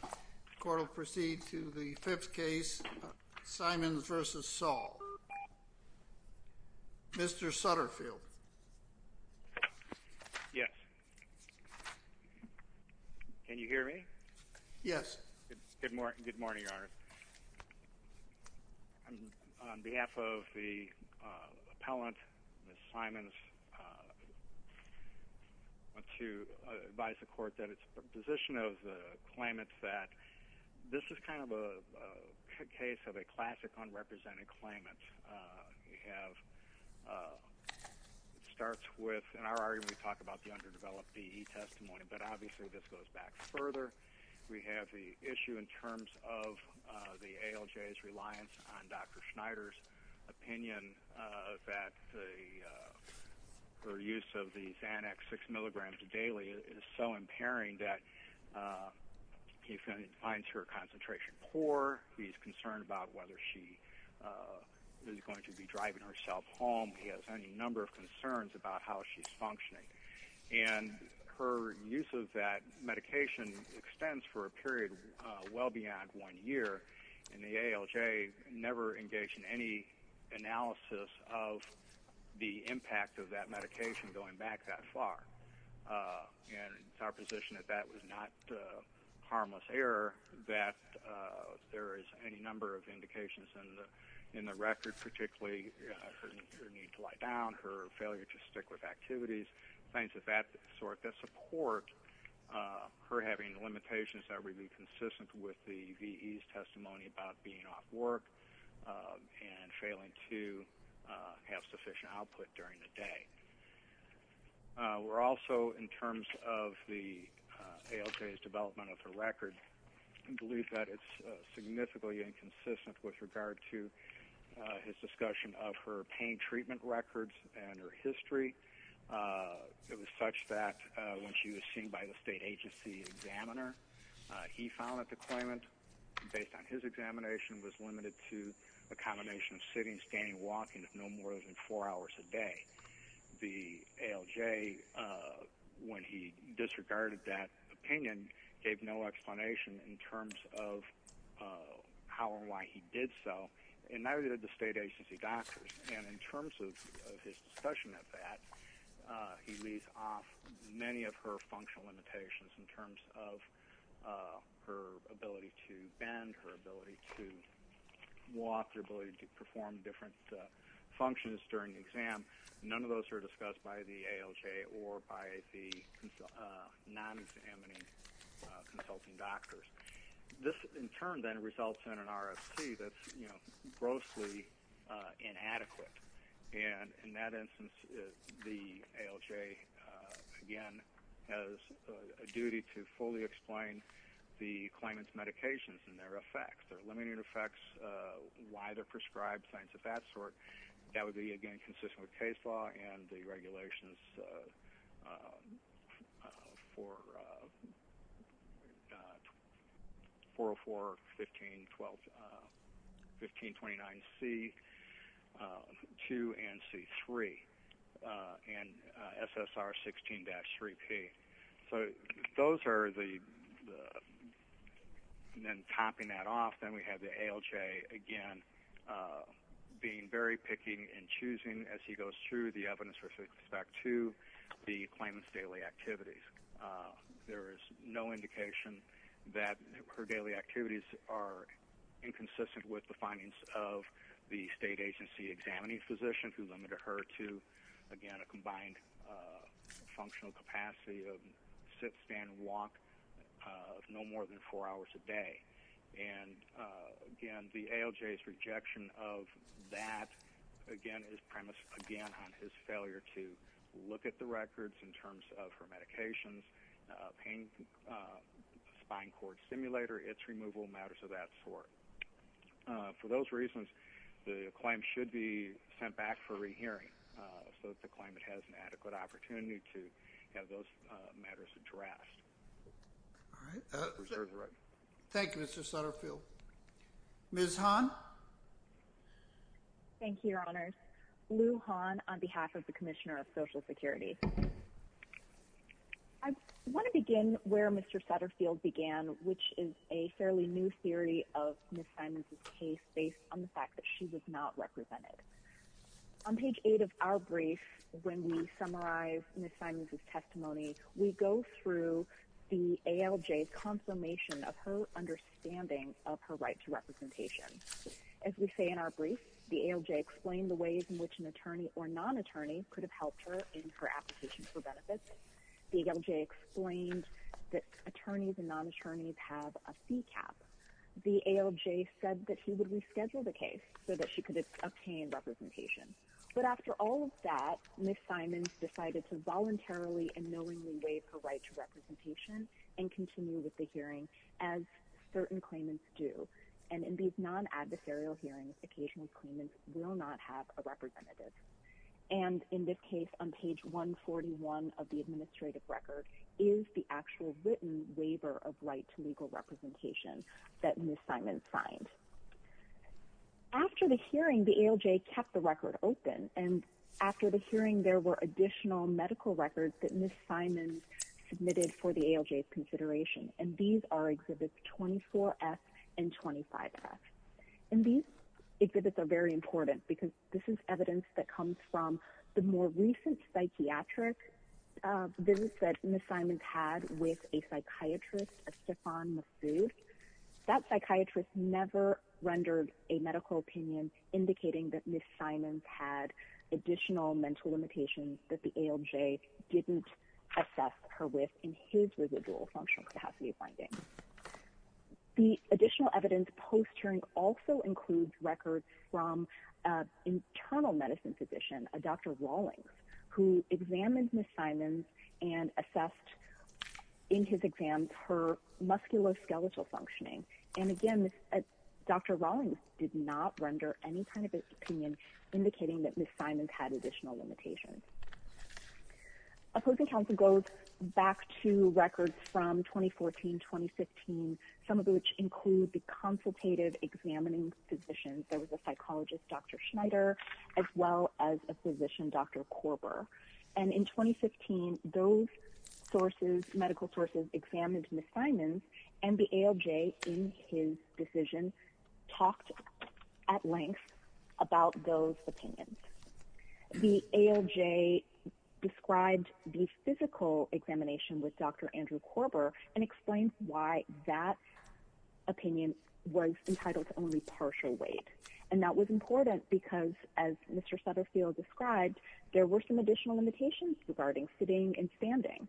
The court will proceed to the fifth case, Simons v. Saul. Mr. Sutterfield. Yes. Can you hear me? Yes. Good morning, Your Honor. On behalf of the appellant, Ms. Simons, I want to advise the court that its position of the claimant that this is kind of a case of a classic unrepresented claimant. It starts with, in our argument, we talk about the underdeveloped DE testimony, but obviously this goes back further. We have the issue in terms of the ALJ's reliance on Dr. Schneider's opinion that her use of these annex 6 milligrams daily is so impairing that he finds her concentration poor. He's concerned about whether she is going to be driving herself home. He has any number of concerns about how she's functioning. And her use of that medication extends for a period well beyond one year, and the ALJ never engaged in any analysis of the impact of that medication going back that far. And it's our position that that was not a harmless error, that there is any number of indications in the record, particularly her need to lie down, her failure to stick with activities, things of that sort that support her having limitations that would be consistent with the VE's testimony about being off work and failing to have sufficient output during the day. We're also, in terms of the ALJ's development of her record, believe that it's significantly inconsistent with regard to his discussion of her pain treatment records and her history. It was such that when she was seen by the state agency examiner, he found that the claimant, based on his examination, was limited to a combination of sitting, standing, walking of no more than four hours a day. The ALJ, when he disregarded that opinion, gave no explanation in terms of how and why he did so, and neither did the state agency doctors. And in terms of his discussion of that, he leaves off many of her functional limitations in terms of her ability to bend, her ability to walk, her ability to perform different functions during the exam. None of those are discussed by the ALJ or by the non-examining consulting doctors. This, in turn, then results in an RFC that's grossly inadequate. And in that instance, the ALJ, again, has a duty to fully explain the claimant's medications and their effects, their limiting effects, why they're prescribed, things of that sort. That would be, again, consistent with case law and the regulations for 404, 1529C, 2, and C3, and SSR 16-3P. So those are the... And then topping that off, then we have the ALJ, again, being very picking and choosing as he goes through the evidence with respect to the claimant's daily activities. There is no indication that her daily activities are inconsistent with the findings of the state agency examining physician who limited her to, again, a combined functional capacity of sit, stand, and walk no more than four hours a day. And, again, the ALJ's rejection of that, again, is premised, again, on his failure to look at the records in terms of her medications, pain, spine cord stimulator, its removal, matters of that sort. For those reasons, the claim should be sent back for rehearing so that the claimant has an adequate opportunity to have those matters addressed. All right. Thank you, Mr. Sutterfield. Ms. Hahn? Thank you, Your Honors. Lou Hahn on behalf of the Commissioner of Social Security. I want to begin where Mr. Sutterfield began, which is a fairly new theory of Ms. Simons' case based on the fact that she was not represented. On page 8 of our brief, when we summarize Ms. Simons' testimony, we go through the ALJ's confirmation of her understanding of her right to representation. As we say in our brief, the ALJ explained the ways in which an attorney or non-attorney could have helped her in her application for benefits. The ALJ explained that attorneys and non-attorneys have a fee cap. The ALJ said that he would reschedule the case so that she could obtain representation. But after all of that, Ms. Simons decided to voluntarily and knowingly waive her right to representation and continue with the hearing, as certain claimants do. And in these non-adversarial hearings, occasional claimants will not have a representative. And in this case, on page 141 of the administrative record, is the actual written waiver of right to legal representation that Ms. Simons signed. After the hearing, the ALJ kept the record open. And after the hearing, there were additional medical records that Ms. Simons submitted for the ALJ's consideration. And these are Exhibits 24F and 25F. And these exhibits are very important because this is evidence that comes from the more recent psychiatric visits that Ms. Simons had with a psychiatrist, a Stéphane Massouf. That psychiatrist never rendered a medical opinion indicating that Ms. Simons had additional mental limitations that the ALJ didn't assess her with in his residual functional capacity findings. The additional evidence post-hearing also includes records from an internal medicine physician, a Dr. Rawlings, who examined Ms. Simons and assessed in his exam her musculoskeletal functioning. And again, Dr. Rawlings did not render any kind of opinion indicating that Ms. Simons had additional limitations. Opposing counsel goes back to records from 2014-2015, some of which include the consultative examining physicians. There was a psychologist, Dr. Schneider, as well as a physician, Dr. Korber. And in 2015, those sources, medical sources, examined Ms. Simons and the ALJ in his decision talked at length about those opinions. The ALJ described the physical examination with Dr. Andrew Korber and explained why that opinion was entitled to only partial weight. And that was important because, as Mr. Sutterfield described, there were some additional limitations regarding sitting and standing.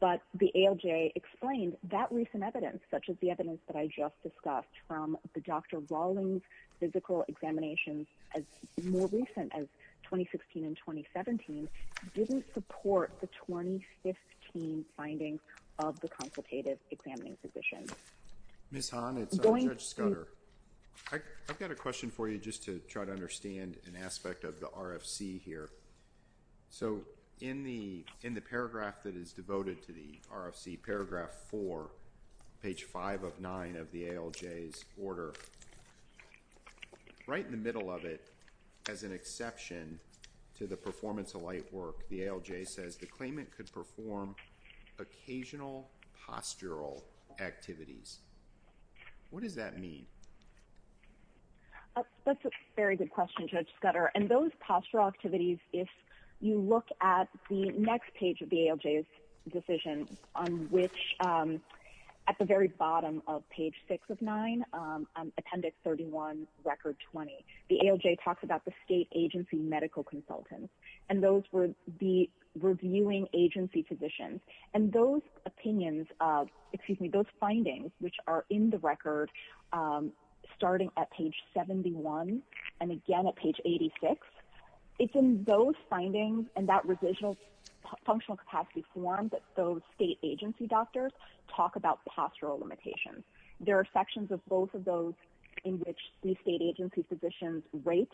But the ALJ explained that recent evidence, such as the evidence that I just discussed from the Dr. Rawlings physical examinations as more recent as 2016 and 2017, didn't support the 2015 findings of the consultative examining physicians. Ms. Hahn, it's Judge Scudder. I've got a question for you just to try to understand an aspect of the RFC here. So in the paragraph that is devoted to the RFC, paragraph 4, page 5 of 9 of the ALJ's order, right in the middle of it, as an exception to the performance of light work, the ALJ says the claimant could perform occasional postural activities. What does that mean? That's a very good question, Judge Scudder. And those postural activities, if you look at the next page of the ALJ's decision, on which, at the very bottom of page 6 of 9, Appendix 31, Record 20, the ALJ talks about the state agency medical consultants, and those were the reviewing agency physicians. And those findings, which are in the record, starting at page 71 and again at page 86, it's in those findings and that functional capacity form that those state agency doctors talk about postural limitations. There are sections of both of those in which the state agency physicians rate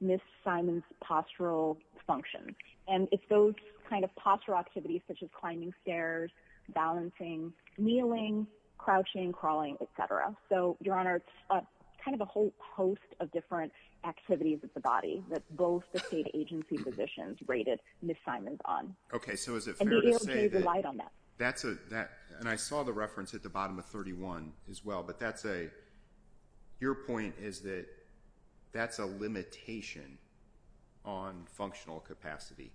Ms. Simon's postural function. And it's those kind of postural activities, such as climbing stairs, balancing, kneeling, crouching, crawling, et cetera. So, Your Honor, it's kind of a whole host of different activities of the body that both the state agency physicians rated Ms. Simon's on. Okay, so is it fair to say that… And the ALJ relied on that. And I saw the reference at the bottom of 31 as well, but that's a… Your point is that that's a limitation on functional capacity.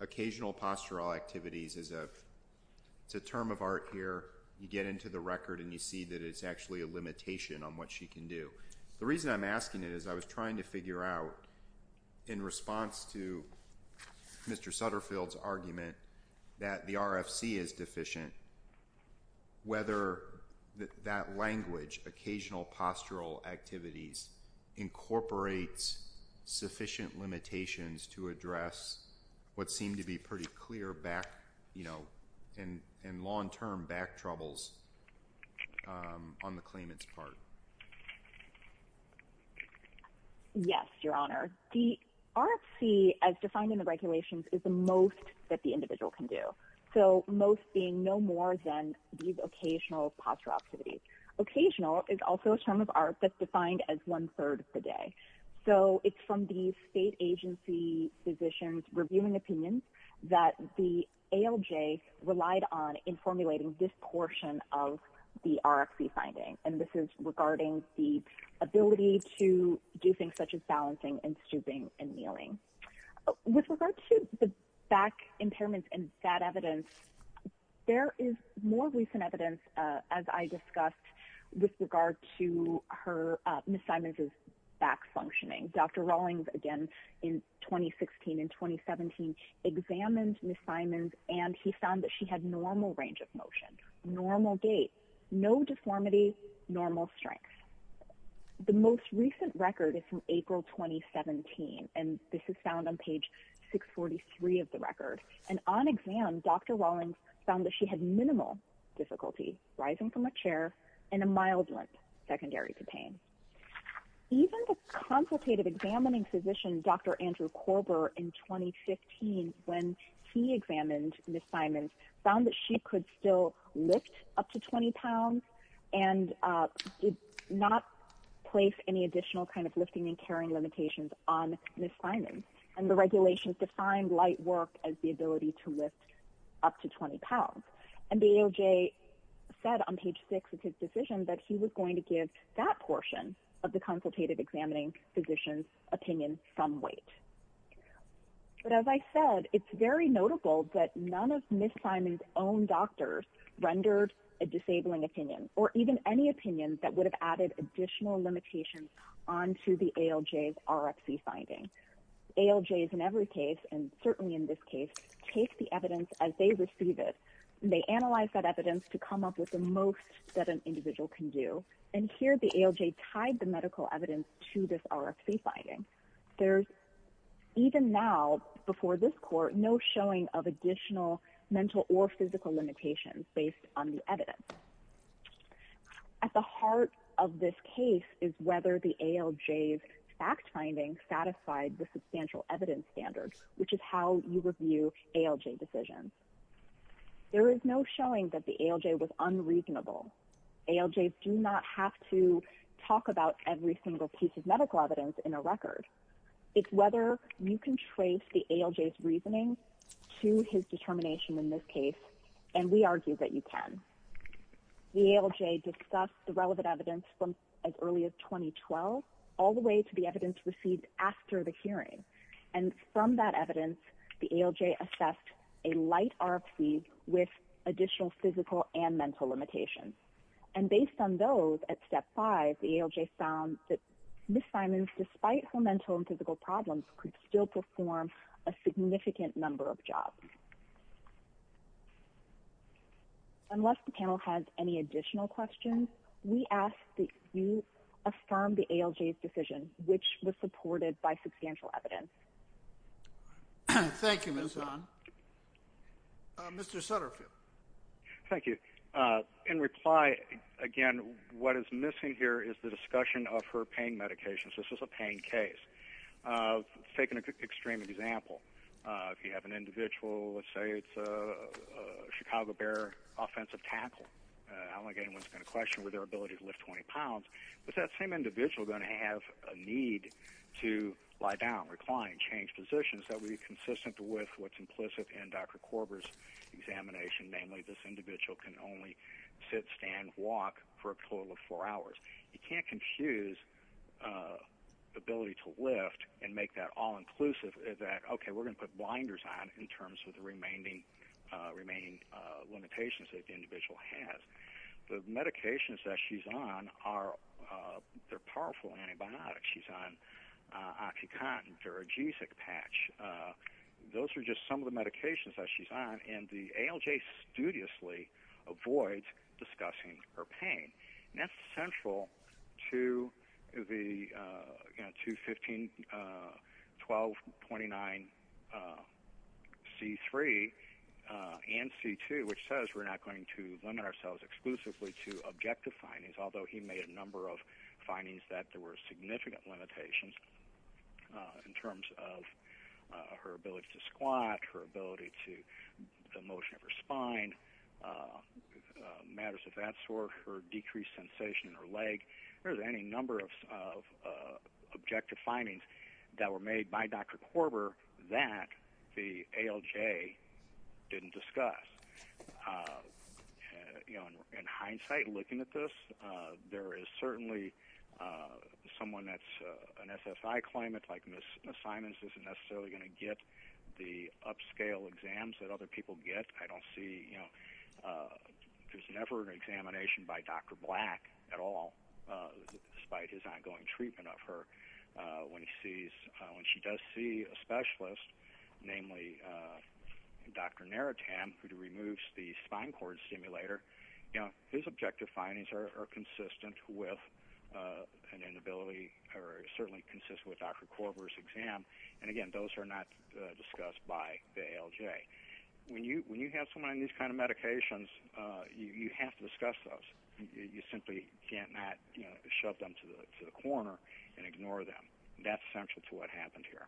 Occasional postural activities is a term of art here. You get into the record and you see that it's actually a limitation on what she can do. The reason I'm asking it is I was trying to figure out, in response to Mr. Sutterfield's argument that the RFC is deficient, whether that language, occasional postural activities, incorporates sufficient limitations to address what seemed to be pretty clear back, you know, and long-term back troubles on the claimant's part. Yes, Your Honor. The RFC, as defined in the regulations, is the most that the individual can do. So, most being no more than these occasional postural activities. Occasional is also a term of art that's defined as one-third of the day. So, it's from the state agency physicians' reviewing opinions that the ALJ relied on in formulating this portion of the RFC finding. And this is regarding the ability to do things such as balancing and stooping and kneeling. With regard to the back impairments and that evidence, there is more recent evidence, as I discussed, with regard to Ms. Simons' back functioning. Dr. Rawlings, again, in 2016 and 2017 examined Ms. Simons and he found that she had normal range of motion, normal gait, no deformity, normal strength. The most recent record is from April 2017 and this is found on page 643 of the record. And on exam, Dr. Rawlings found that she had minimal difficulty rising from a chair and a mild limp secondary to pain. Even the consultative examining physician, Dr. Andrew Korber, in 2015, when he examined Ms. Simons, found that she could still lift up to 20 pounds and did not place any additional kind of lifting and carrying limitations on Ms. Simons. And the regulations defined light work as the ability to lift up to 20 pounds. And the ALJ said on page 6 of his decision that he was going to give that portion of the consultative examining physician's opinion some weight. But as I said, it's very notable that none of Ms. Simons' own doctors rendered a disabling opinion or even any opinion that would have added additional limitations onto the ALJ's RFC finding. ALJs in every case, and certainly in this case, take the evidence as they receive it. They analyze that evidence to come up with the most that an individual can do. And here the ALJ tied the medical evidence to this RFC finding. There's even now, before this court, no showing of additional mental or physical limitations based on the evidence. At the heart of this case is whether the ALJ's fact finding satisfied the substantial evidence standards, which is how you review ALJ decisions. There is no showing that the ALJ was unreasonable. ALJs do not have to talk about every single piece of medical evidence in a record. It's whether you can trace the ALJ's reasoning to his determination in this case, and we argue that you can. The ALJ discussed the relevant evidence from as early as 2012, all the way to the evidence received after the hearing. And from that evidence, the ALJ assessed a light RFC with additional physical and mental limitations. And based on those, at step five, the ALJ found that Ms. Simons, despite her mental and physical problems, could still perform a significant number of jobs. Unless the panel has any additional questions, we ask that you affirm the ALJ's decision, which was supported by substantial evidence. Thank you, Ms. Simons. Mr. Sutterfield. Thank you. In reply, again, what is missing here is the discussion of her pain medications. This is a pain case. Taking an extreme example, if you have an individual, let's say it's a Chicago Bear offensive tackle, I don't want to get anyone to question their ability to lift 20 pounds, but that same individual is going to have a need to lie down, recline, and change positions that would be consistent with what's implicit in Dr. Korber's examination, namely this individual can only sit, stand, walk for a total of four hours. You can't confuse ability to lift and make that all-inclusive that, okay, we're going to put blinders on in terms of the remaining limitations that the individual has. The medications that she's on are powerful antibiotics. She's on OxyContin, Viragesic patch. Those are just some of the medications that she's on, and the ALJ studiously avoids discussing her pain. That's central to the 2,15, 12, 29, C3 and C2, which says we're not going to limit ourselves exclusively to objective findings, although he made a number of findings that there were significant limitations in terms of her ability to squat, her ability to the motion of her spine, matters of that sort, her decreased sensation in her leg. There's any number of objective findings that were made by Dr. Korber that the ALJ didn't discuss. In hindsight, looking at this, there is certainly someone that's an SSI claimant like Ms. Simons isn't necessarily going to get the upscale exams that other people get. I don't see, you know, there's never an examination by Dr. Black at all, despite his ongoing treatment of her. When she does see a specialist, namely Dr. Naritam, who removes the spine cord stimulator, his objective findings are consistent with an inability or certainly consistent with Dr. Korber's exam, and again, those are not discussed by the ALJ. When you have someone on these kind of medications, you have to discuss those. You simply cannot shove them to the corner and ignore them. That's central to what happened here.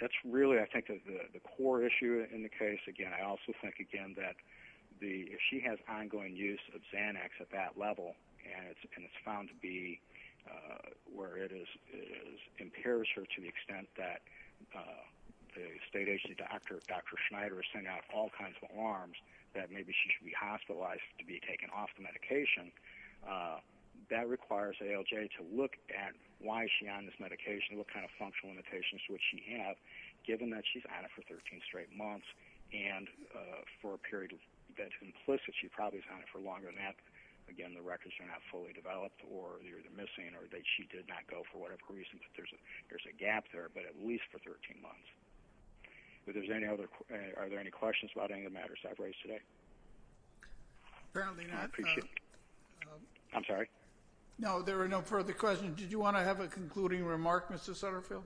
That's really, I think, the core issue in the case. Again, I also think, again, that if she has ongoing use of Xanax at that level and it's found to be where it impairs her to the extent that the state agency doctor, Dr. Schneider, is sending out all kinds of alarms that maybe she should be hospitalized to be taken off the medication, that requires ALJ to look at why is she on this medication, what kind of functional limitations would she have given that she's on it for 13 straight months and for a period that's implicit she probably is on it for longer than that. Again, the records are not fully developed or they're missing or she did not go for whatever reason, but there's a gap there, but at least for 13 months. Are there any questions about any of the matters I've raised today? Apparently not. I appreciate it. I'm sorry? No, there are no further questions. Did you want to have a concluding remark, Mr. Sutterfield?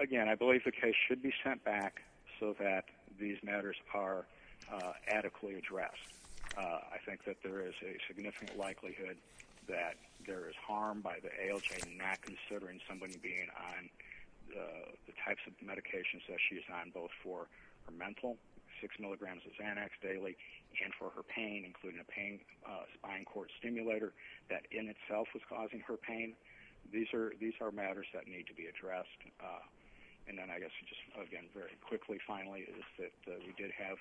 Again, I believe the case should be sent back so that these matters are adequately addressed. I think that there is a significant likelihood that there is harm by the ALJ not considering somebody being on the types of medications that she's on, both for her mental, 6 milligrams of Xanax daily, and for her pain, including a spine cord stimulator that in itself was causing her pain. These are matters that need to be addressed. And then I guess just, again, very quickly, finally, is that we did have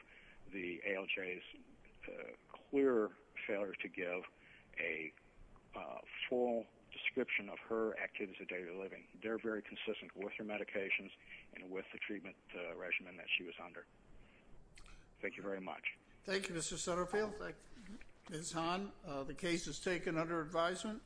the ALJ's clear failure to give a full description of her activities of daily living. They're very consistent with her medications and with the treatment regimen that she was under. Thank you very much. Thank you, Mr. Sutterfield. Ms. Hahn, the case is taken under advisement.